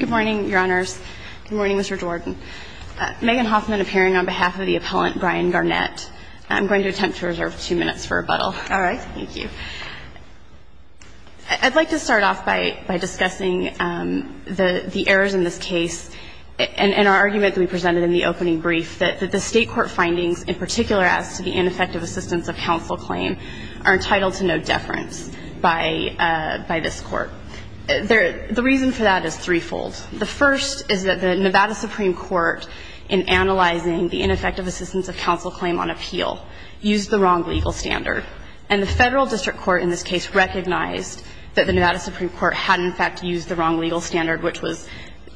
Good morning, Your Honors. Good morning, Mr. Jordan. Megan Hoffman appearing on behalf of the appellant, Brian Garnett. I'm going to attempt to reserve two minutes for rebuttal. All right. Thank you. I'd like to start off by discussing the errors in this case and our argument that we presented in the opening brief, that the state court findings, in particular as to the ineffective assistance of counsel claim, are entitled to no deference by this court. The reason for that is threefold. The first is that the Nevada Supreme Court, in analyzing the ineffective assistance of counsel claim on appeal, used the wrong legal standard. And the federal district court in this case recognized that the Nevada Supreme Court had in fact used the wrong legal standard, which was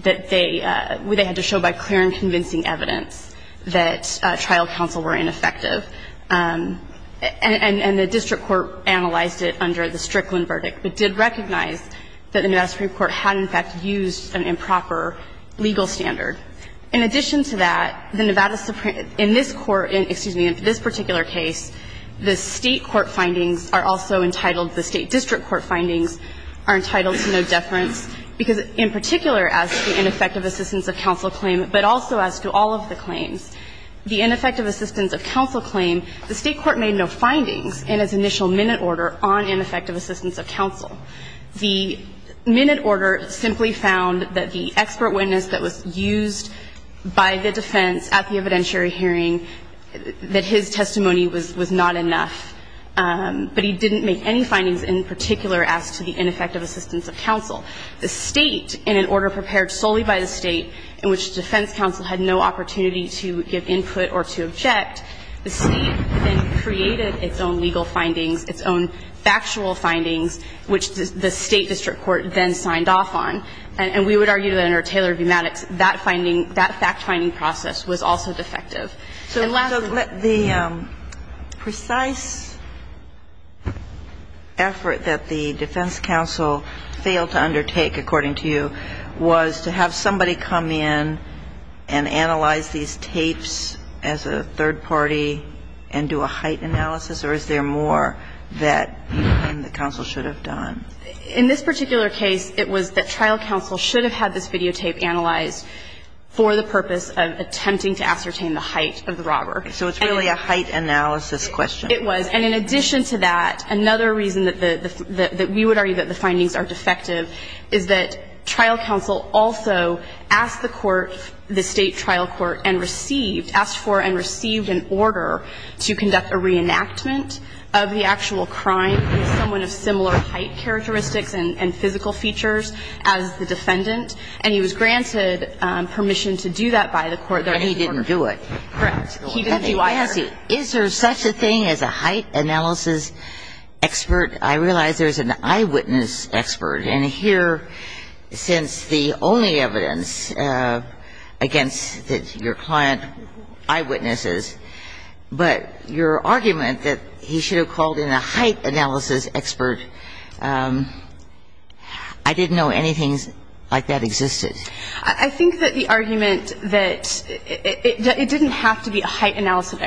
that they had to show by clear and convincing evidence that trial counsel were ineffective. And the district court analyzed it under the Strickland verdict, but did recognize that the Nevada Supreme Court had in fact used an improper legal standard. In addition to that, the Nevada Supreme – in this court, excuse me, in this particular case, the state court findings are also entitled, the state district court findings are entitled to no deference, because in particular as to the ineffective assistance of counsel claim, but also as to all of the claims. The ineffective assistance of counsel claim, the state court made no findings in its initial minute order on ineffective assistance of counsel. The minute order simply found that the expert witness that was used by the defense at the evidentiary hearing, that his testimony was not enough, but he didn't make any findings in particular as to the ineffective assistance of counsel. The state, in an order prepared solely by the state, in which the defense counsel had no opportunity to give input or to object, the state then created its own legal findings, its own factual findings, which the state district court then signed off on. And we would argue that under Taylor v. Maddox, that finding, that fact-finding process was also defective. And lastly, the – And the final question that I would undertake, according to you, was to have somebody come in and analyze these tapes as a third party and do a height analysis, or is there more that the counsel should have done? In this particular case, it was that trial counsel should have had this videotape analyzed for the purpose of attempting to ascertain the height of the robber. So it's really a height analysis question. It was. And in addition to that, another reason that the – that we would argue that the findings are defective is that trial counsel also asked the court, the state trial court, and received – asked for and received an order to conduct a reenactment of the actual crime with someone of similar height characteristics and physical features as the defendant, and he was granted permission to do that by the court. But he didn't do it. Correct. He didn't do either. Ms. Casey, is there such a thing as a height analysis expert? I realize there's an eyewitness expert. And here, since the only evidence against your client, eyewitnesses, but your argument that he should have called in a height analysis expert, I didn't know anything like that existed. I think that the argument that – it didn't have to be a height analysis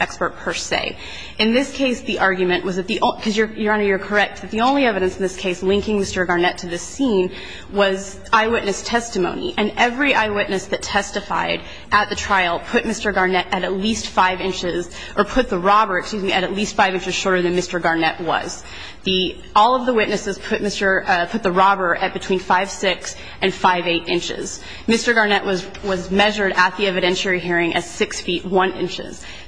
expert per se. In this case, the argument was that the – because, Your Honor, you're correct that the only evidence in this case linking Mr. Garnett to this scene was eyewitness testimony, and every eyewitness that testified at the trial put Mr. Garnett at at least 5 inches – or put the robber, excuse me, at at least 5 inches shorter than Mr. Garnett was. The – all of the witnesses put Mr. – put the robber at between 5'6 and 5'8". Mr. Garnett was measured at the evidentiary hearing as 6'1".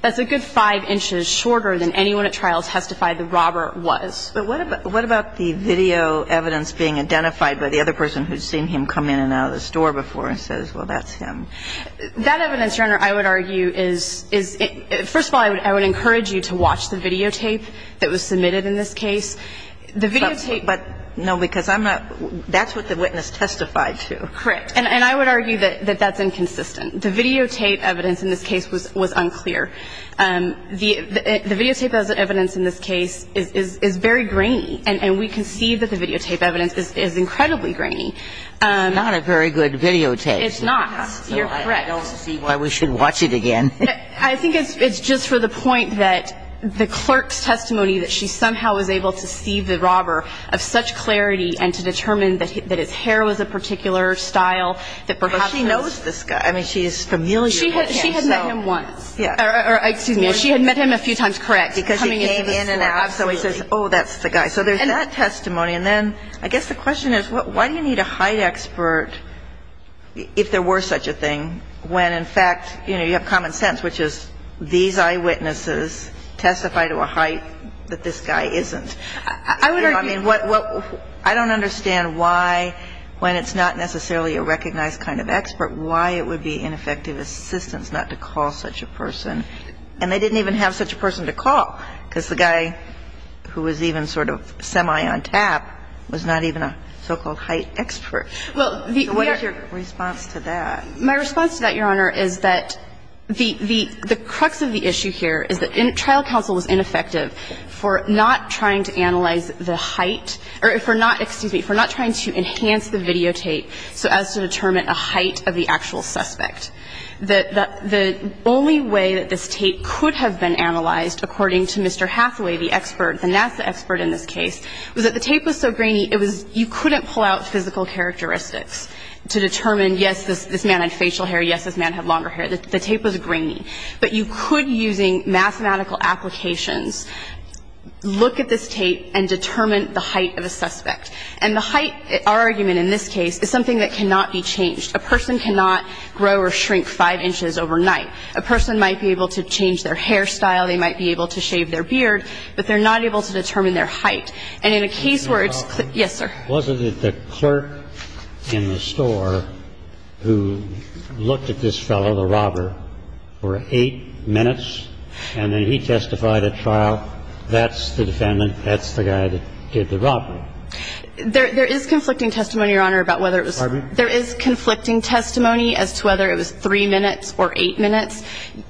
That's a good 5 inches shorter than anyone at trial testified the robber was. But what about the video evidence being identified by the other person who's seen him come in and out of the store before and says, well, that's him? That evidence, Your Honor, I would argue is – first of all, I would encourage you to watch the videotape that was submitted in this case. The videotape – But, no, because I'm not – that's what the witness testified to. Correct. And I would argue that that's inconsistent. The videotape evidence in this case was unclear. The videotape evidence in this case is very grainy, and we can see that the videotape evidence is incredibly grainy. It's not a very good videotape. It's not. You're correct. I don't see why we should watch it again. I think it's just for the point that the clerk's testimony that she somehow was able to see the robber of such clarity and to determine that his hair was a particular style that perhaps – But she knows this guy. I mean, she's familiar with him, so – She had met him once. Yeah. Or, excuse me, she had met him a few times, correct, coming into the store. Because he came in and out, so he says, oh, that's the guy. So there's that testimony. And then I guess the question is, why do you need a height expert if there were such a thing, when in fact, you know, you have common sense, which is these eyewitnesses testify to a height that this guy isn't? I would argue – I mean, what – I don't understand why, when it's not necessarily a recognized kind of expert, why it would be ineffective assistance not to call such a person. And they didn't even have such a person to call, because the guy who was even sort of semi on tap was not even a so-called height expert. Well, the – So what is your response to that? My response to that, Your Honor, is that the – the crux of the issue here is that trial counsel was ineffective for not trying to analyze the height – or for not – excuse me, for not trying to enhance the videotape so as to determine a height of the actual suspect. The only way that this tape could have been analyzed, according to Mr. Hathaway, the expert, the NASA expert in this case, was that the tape was so grainy, it was – and yes, this man had facial hair. Yes, this man had longer hair. The tape was grainy. But you could, using mathematical applications, look at this tape and determine the height of a suspect. And the height, our argument in this case, is something that cannot be changed. A person cannot grow or shrink five inches overnight. A person might be able to change their hairstyle. They might be able to shave their beard. But they're not able to determine their height. And in a case where it's – yes, sir. Was it the clerk in the store who looked at this fellow, the robber, for eight minutes and then he testified at trial, that's the defendant, that's the guy that did the robbery? There is conflicting testimony, Your Honor, about whether it was – Pardon me? There is conflicting testimony as to whether it was three minutes or eight minutes.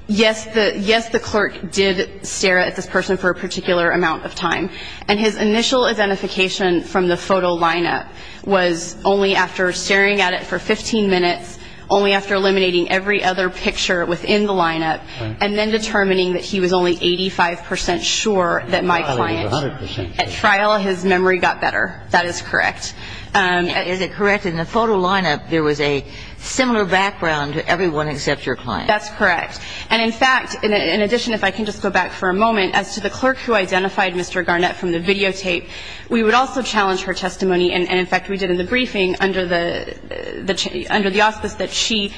Yes, the – yes, the clerk did stare at this person for a particular amount of time. And his initial identification from the photo lineup was only after staring at it for 15 minutes, only after eliminating every other picture within the lineup, and then determining that he was only 85 percent sure that my client was – At trial, he was 100 percent sure. At trial, his memory got better. That is correct. Is it correct? In the photo lineup, there was a similar background to everyone except your client. That's correct. And, in fact, in addition, if I can just go back for a moment, as to the clerk who identified Mr. Garnett from the videotape, we would also challenge her testimony and, in fact, we did in the briefing under the – under the auspice that she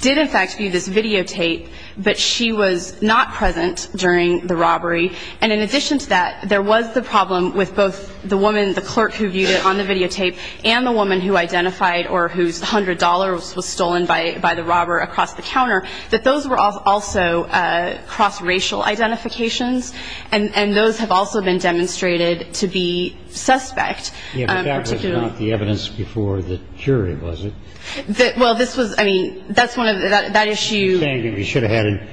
did, in fact, view this videotape, but she was not present during the robbery. And in addition to that, there was the problem with both the woman, the clerk who viewed it on the videotape and the woman who identified or whose $100 was stolen by the robber across the counter, that those were also cross-racial identifications, and those have also been demonstrated to be suspect, particularly. Yes, but that was not the evidence before the jury, was it? Well, this was – I mean, that's one of – that issue – You're saying that we should have had an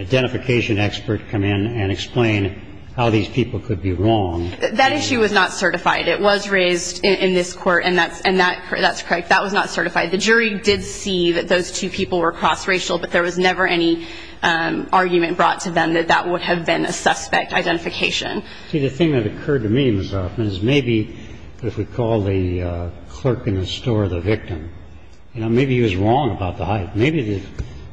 identification expert come in and explain how these people could be wrong. That issue was not certified. It was raised in this court, and that's – and that – that's correct. That was not certified. The jury did see that those two people were cross-racial, but there was never any argument brought to them that that would have been a suspect identification. See, the thing that occurred to me, Ms. Hoffman, is maybe if we call the clerk in the store the victim, you know, maybe he was wrong about the height. Maybe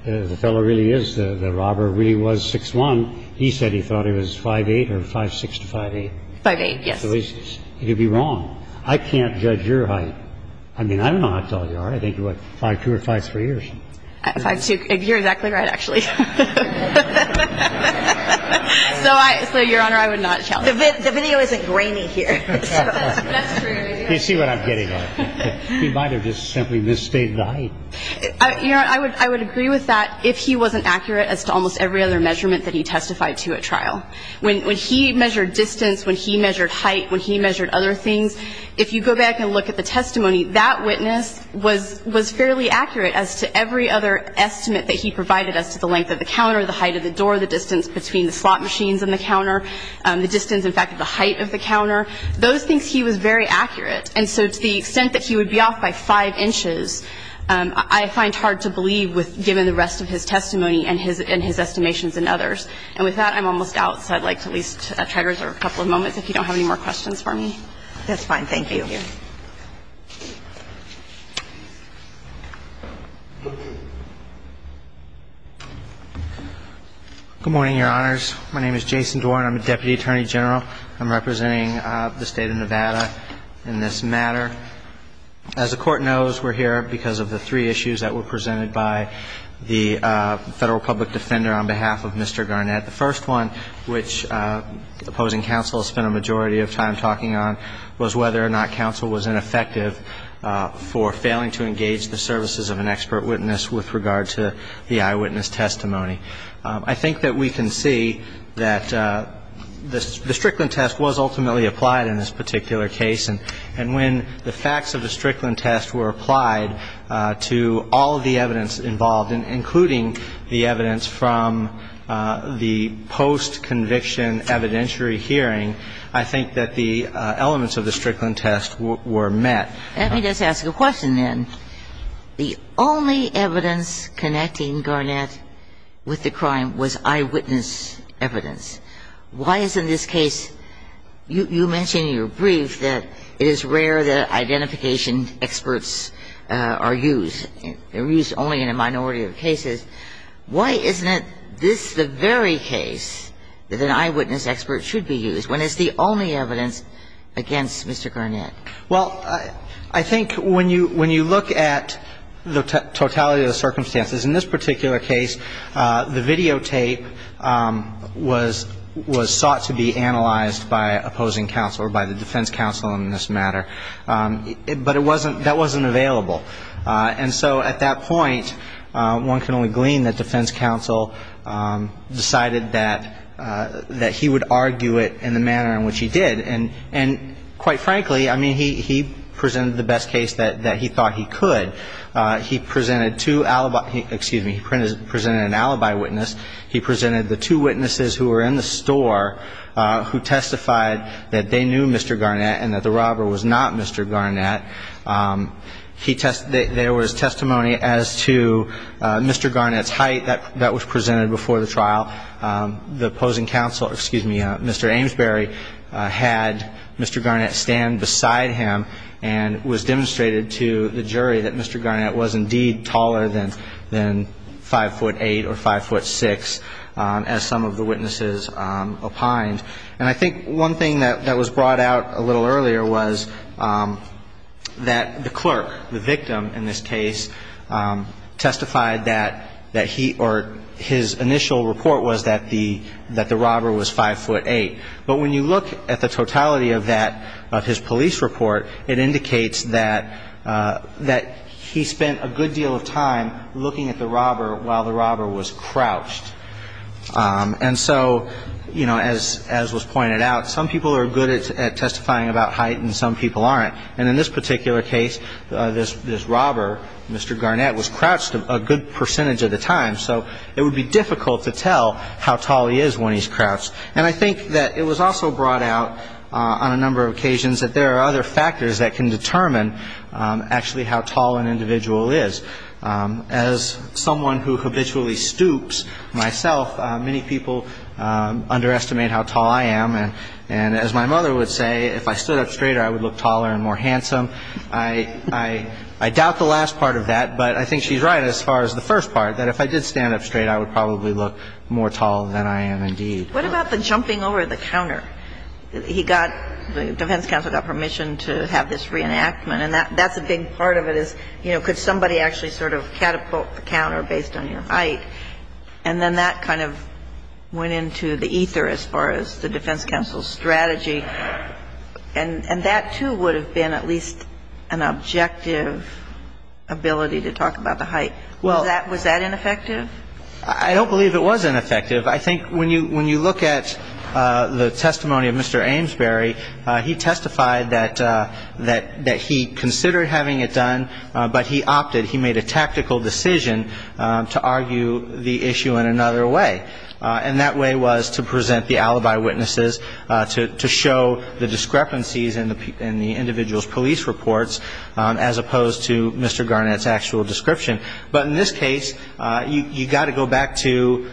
the fellow really is – the robber really was 6'1". He said he thought he was 5'8", or 5'6"-5'8". 5'8", yes. So he could be wrong. I can't judge your height. I mean, I don't know how tall you are. I think you're, what, 5'2"-5'3"? 5'2". You're exactly right, actually. So, Your Honor, I would not challenge that. The video isn't grainy here. That's true. You see what I'm getting at. He might have just simply misstated the height. Your Honor, I would agree with that if he wasn't accurate as to almost every other measurement that he testified to at trial. When he measured distance, when he measured height, when he measured other things, if you go back and look at the testimony, that witness was fairly accurate as to every other estimate that he provided as to the length of the counter, the height of the door, the distance between the slot machines and the counter, the distance, in fact, of the height of the counter. Those things, he was very accurate. And so to the extent that he would be off by 5", I find hard to believe given the rest of his testimony and his estimations and others. And with that, I'm almost out. So I'd like to at least try to reserve a couple of moments if you don't have any more questions for me. That's fine. Thank you. Good morning, Your Honors. My name is Jason Dorn. I'm a Deputy Attorney General. I'm representing the State of Nevada in this matter. As the Court knows, we're here because of the three issues that were presented by the Federal Public Defender on behalf of Mr. Garnett. The first one, which opposing counsel spent a majority of time talking on, was whether or not counsel was ineffective for failing to engage the services of an expert witness with regard to the eyewitness testimony. I think that we can see that the Strickland test was ultimately applied in this particular case, and when the facts of the Strickland test were applied to all of the evidence involved, including the evidence from the post-conviction evidentiary hearing, I think that the elements of the Strickland test were met. Let me just ask a question, then. The only evidence connecting Garnett with the crime was eyewitness evidence. Why is in this case you mentioned in your brief that it is rare that identification experts are used? They're used only in a minority of cases. Why isn't this the very case that an eyewitness expert should be used when it's the only evidence against Mr. Garnett? Well, I think when you look at the totality of the circumstances, in this particular case, the videotape was sought to be analyzed by opposing counsel or by the defense counsel in this matter. But it wasn't, that wasn't available. And so at that point, one can only glean that defense counsel decided that he would argue it in the manner in which he did. And quite frankly, I mean, he presented the best case that he thought he could. He presented two alibi, excuse me, he presented an alibi witness. He presented the two witnesses who were in the store who testified that they knew Mr. Garnett and that the robber was not Mr. Garnett. There was testimony as to Mr. Garnett's height that was presented before the trial. The opposing counsel, excuse me, Mr. Amesbury, had Mr. Garnett stand beside him and was demonstrated to the jury that Mr. Garnett was indeed taller than 5'8 or 5'6 as some of the witnesses opined. And I think one thing that was brought out a little earlier was that the clerk, the victim in this case, testified that he or his initial report was that the robber was 5'8. But when you look at the totality of that, of his police report, it indicates that he spent a good deal of time looking at the robber while the robber was crouched. And so, you know, as was pointed out, some people are good at testifying about height and some people aren't. And in this particular case, this robber, Mr. Garnett, was crouched a good percentage of the time, so it would be difficult to tell how tall he is when he's crouched. And I think that it was also brought out on a number of occasions that there are other factors that can determine actually how tall an individual is. As someone who habitually stoops myself, many people underestimate how tall I am. And as my mother would say, if I stood up straighter, I would look taller and more handsome. I doubt the last part of that, but I think she's right as far as the first part, that if I did stand up straight, I would probably look more tall than I am indeed. What about the jumping over the counter? He got the defense counsel got permission to have this reenactment, and that's a big part of it is, you know, could somebody actually sort of catapult the counter based on your height? And then that kind of went into the ether as far as the defense counsel's strategy. And that, too, would have been at least an objective ability to talk about the height. Was that ineffective? I don't believe it was ineffective. I think when you look at the testimony of Mr. Amesbury, he testified that he considered having it done, but he opted, he made a tactical decision to argue the issue in another way. And that way was to present the alibi witnesses, to show the discrepancies in the individual's police reports, as opposed to Mr. Garnett's actual description. But in this case, you've got to go back to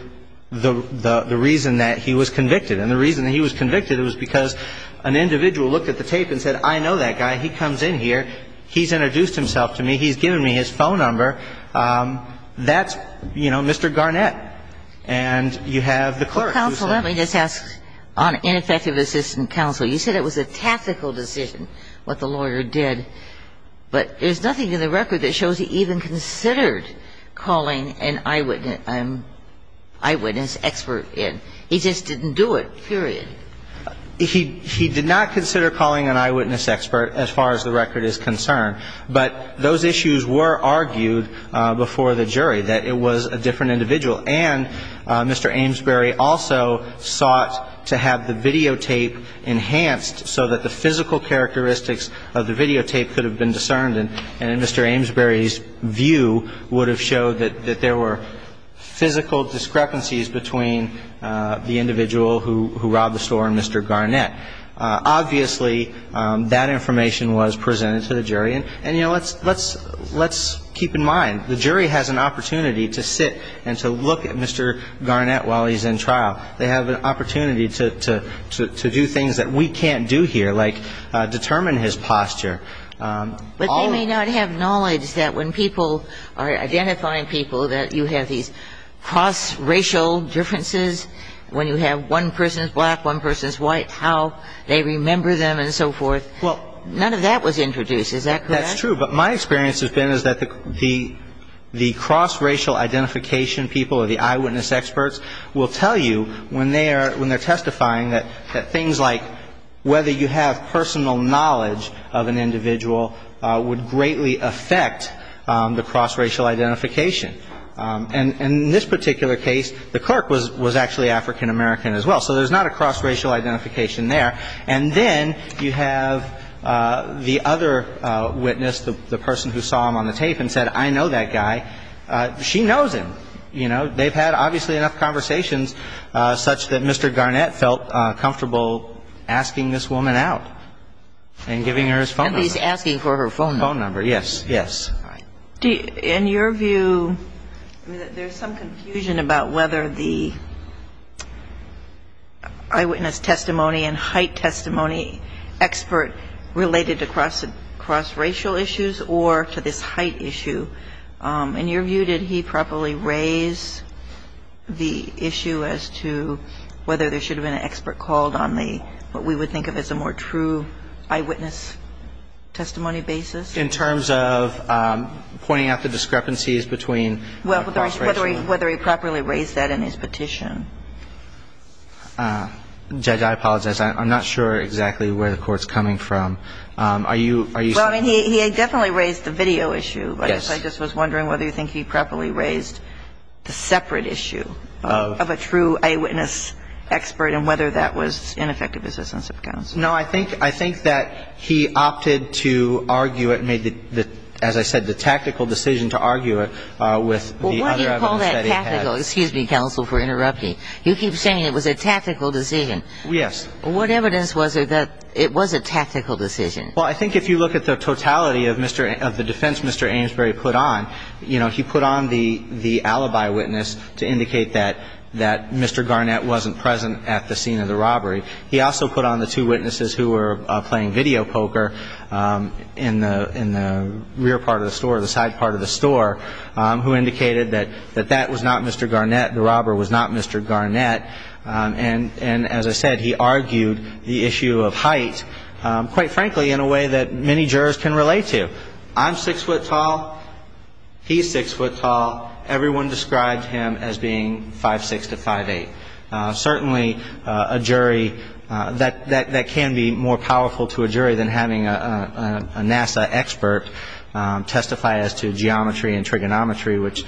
the reason that he was convicted. And the reason that he was convicted was because an individual looked at the tape and said, I know that guy. He comes in here. He's introduced himself to me. He's given me his phone number. That's, you know, Mr. Garnett. And you have the clerk. Counsel, let me just ask on ineffective assistant counsel, you said it was a tactical decision what the lawyer did, but there's nothing in the record that shows he even considered calling an eyewitness expert in. He just didn't do it, period. He did not consider calling an eyewitness expert as far as the record is concerned. But those issues were argued before the jury, that it was a different individual. And Mr. Amesbury also sought to have the videotape enhanced so that the physical characteristics of the videotape could have been discerned. And Mr. Amesbury's view would have showed that there were physical discrepancies between the individual who robbed the store and Mr. Garnett. Obviously, that information was presented to the jury. And, you know, let's keep in mind, the jury has an opportunity to sit and to look at Mr. Garnett while he's in trial. They have an opportunity to do things that we can't do here, like determine his posture. But they may not have knowledge that when people are identifying people that you have these cross-racial differences, when you have one person is black, one person is white, how they remember them and so forth. Well, none of that was introduced. Is that correct? That's true. But my experience has been is that the cross-racial identification people or the eyewitness experts will tell you when they're testifying that things like whether you have personal knowledge of an individual would greatly affect the cross-racial identification. And in this particular case, the clerk was actually African-American as well. So there's not a cross-racial identification there. And then you have the other witness, the person who saw him on the tape and said, I know that guy. She knows him. So, you know, they've had obviously enough conversations such that Mr. Garnett felt comfortable asking this woman out and giving her his phone number. And he's asking for her phone number. Phone number, yes, yes. All right. In your view, I mean, there's some confusion about whether the eyewitness testimony and height testimony expert related to cross-racial issues or to this height issue. In your view, did he properly raise the issue as to whether there should have been an expert called on the what we would think of as a more true eyewitness testimony basis? In terms of pointing out the discrepancies between cross-racial? Well, whether he properly raised that in his petition. Judge, I apologize. I'm not sure exactly where the Court's coming from. Are you saying? Well, I mean, he definitely raised the video issue. Yes. I guess I just was wondering whether you think he properly raised the separate issue of a true eyewitness expert and whether that was ineffective assistance of counsel. No, I think that he opted to argue it, as I said, the tactical decision to argue it with the other evidence that he had. Well, why do you call that tactical? Excuse me, counsel, for interrupting. You keep saying it was a tactical decision. Yes. What evidence was there that it was a tactical decision? Well, I think if you look at the totality of the defense Mr. Amesbury put on, he put on the alibi witness to indicate that Mr. Garnett wasn't present at the scene of the robbery. He also put on the two witnesses who were playing video poker in the rear part of the store, the side part of the store, who indicated that that was not Mr. Garnett, the robber was not Mr. Garnett. And as I said, he argued the issue of height, quite frankly, in a way that many jurors can relate to. I'm six foot tall. He's six foot tall. Everyone described him as being 5'6 to 5'8". Certainly a jury that can be more powerful to a jury than having a NASA expert testify as to geometry and trigonometry, which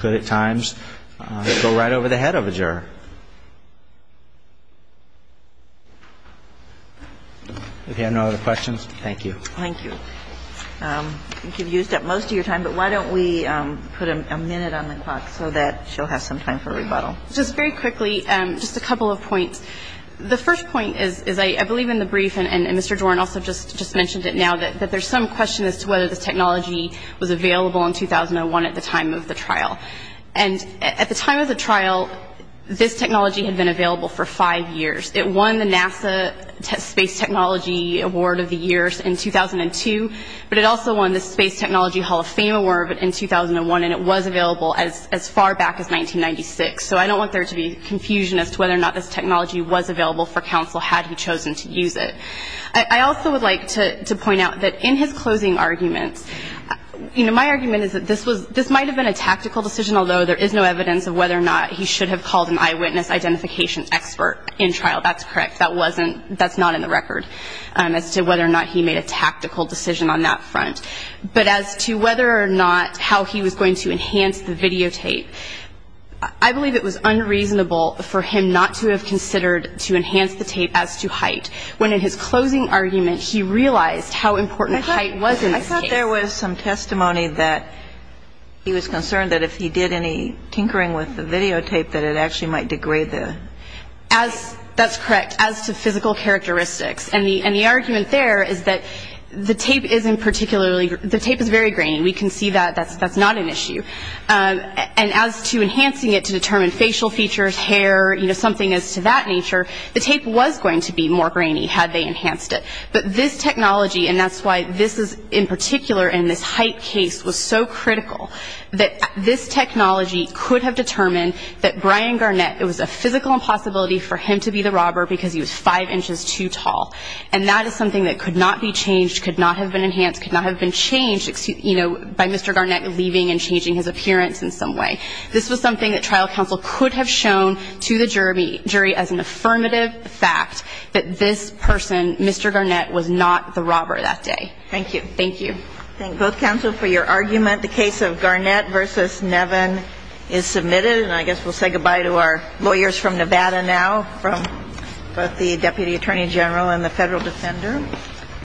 could at times go right over the head of a juror. If you have no other questions, thank you. Thank you. I think you've used up most of your time, but why don't we put a minute on the clock so that she'll have some time for rebuttal. Just very quickly, just a couple of points. The first point is I believe in the brief, and Mr. Jordan also just mentioned it now, that there's some question as to whether this technology was available in 2001 at the time of the trial. And at the time of the trial, this technology had been available for five years. It won the NASA Space Technology Award of the Year in 2002, but it also won the Space Technology Hall of Fame Award in 2001, and it was available as far back as 1996. So I don't want there to be confusion as to whether or not this technology was available for counsel had he chosen to use it. I also would like to point out that in his closing arguments, you know, my argument is that this might have been a tactical decision, although there is no evidence of whether or not he should have called an eyewitness identification expert in trial. That's correct. That's not in the record as to whether or not he made a tactical decision on that front. But as to whether or not how he was going to enhance the videotape, I believe it was unreasonable for him not to have considered to enhance the tape as to height when in his closing argument he realized how important height was in this case. I thought there was some testimony that he was concerned that if he did any tinkering with the videotape, that it actually might degrade the tape. That's correct, as to physical characteristics. And the argument there is that the tape is very grainy. We can see that that's not an issue. And as to enhancing it to determine facial features, hair, you know, something as to that nature, the tape was going to be more grainy had they enhanced it. But this technology, and that's why this is in particular in this height case was so critical, that this technology could have determined that Brian Garnett, it was a physical impossibility for him to be the robber because he was five inches too tall. And that is something that could not be changed, could not have been enhanced, could not have been changed, you know, by Mr. Garnett leaving and changing his appearance in some way. This was something that trial counsel could have shown to the jury as an affirmative fact, that this person, Mr. Garnett, was not the robber that day. Thank you. Thank you. Thank both counsel for your argument. The case of Garnett v. Nevin is submitted. And I guess we'll say goodbye to our lawyers from Nevada now, from both the Deputy Attorney General and the Federal Defender.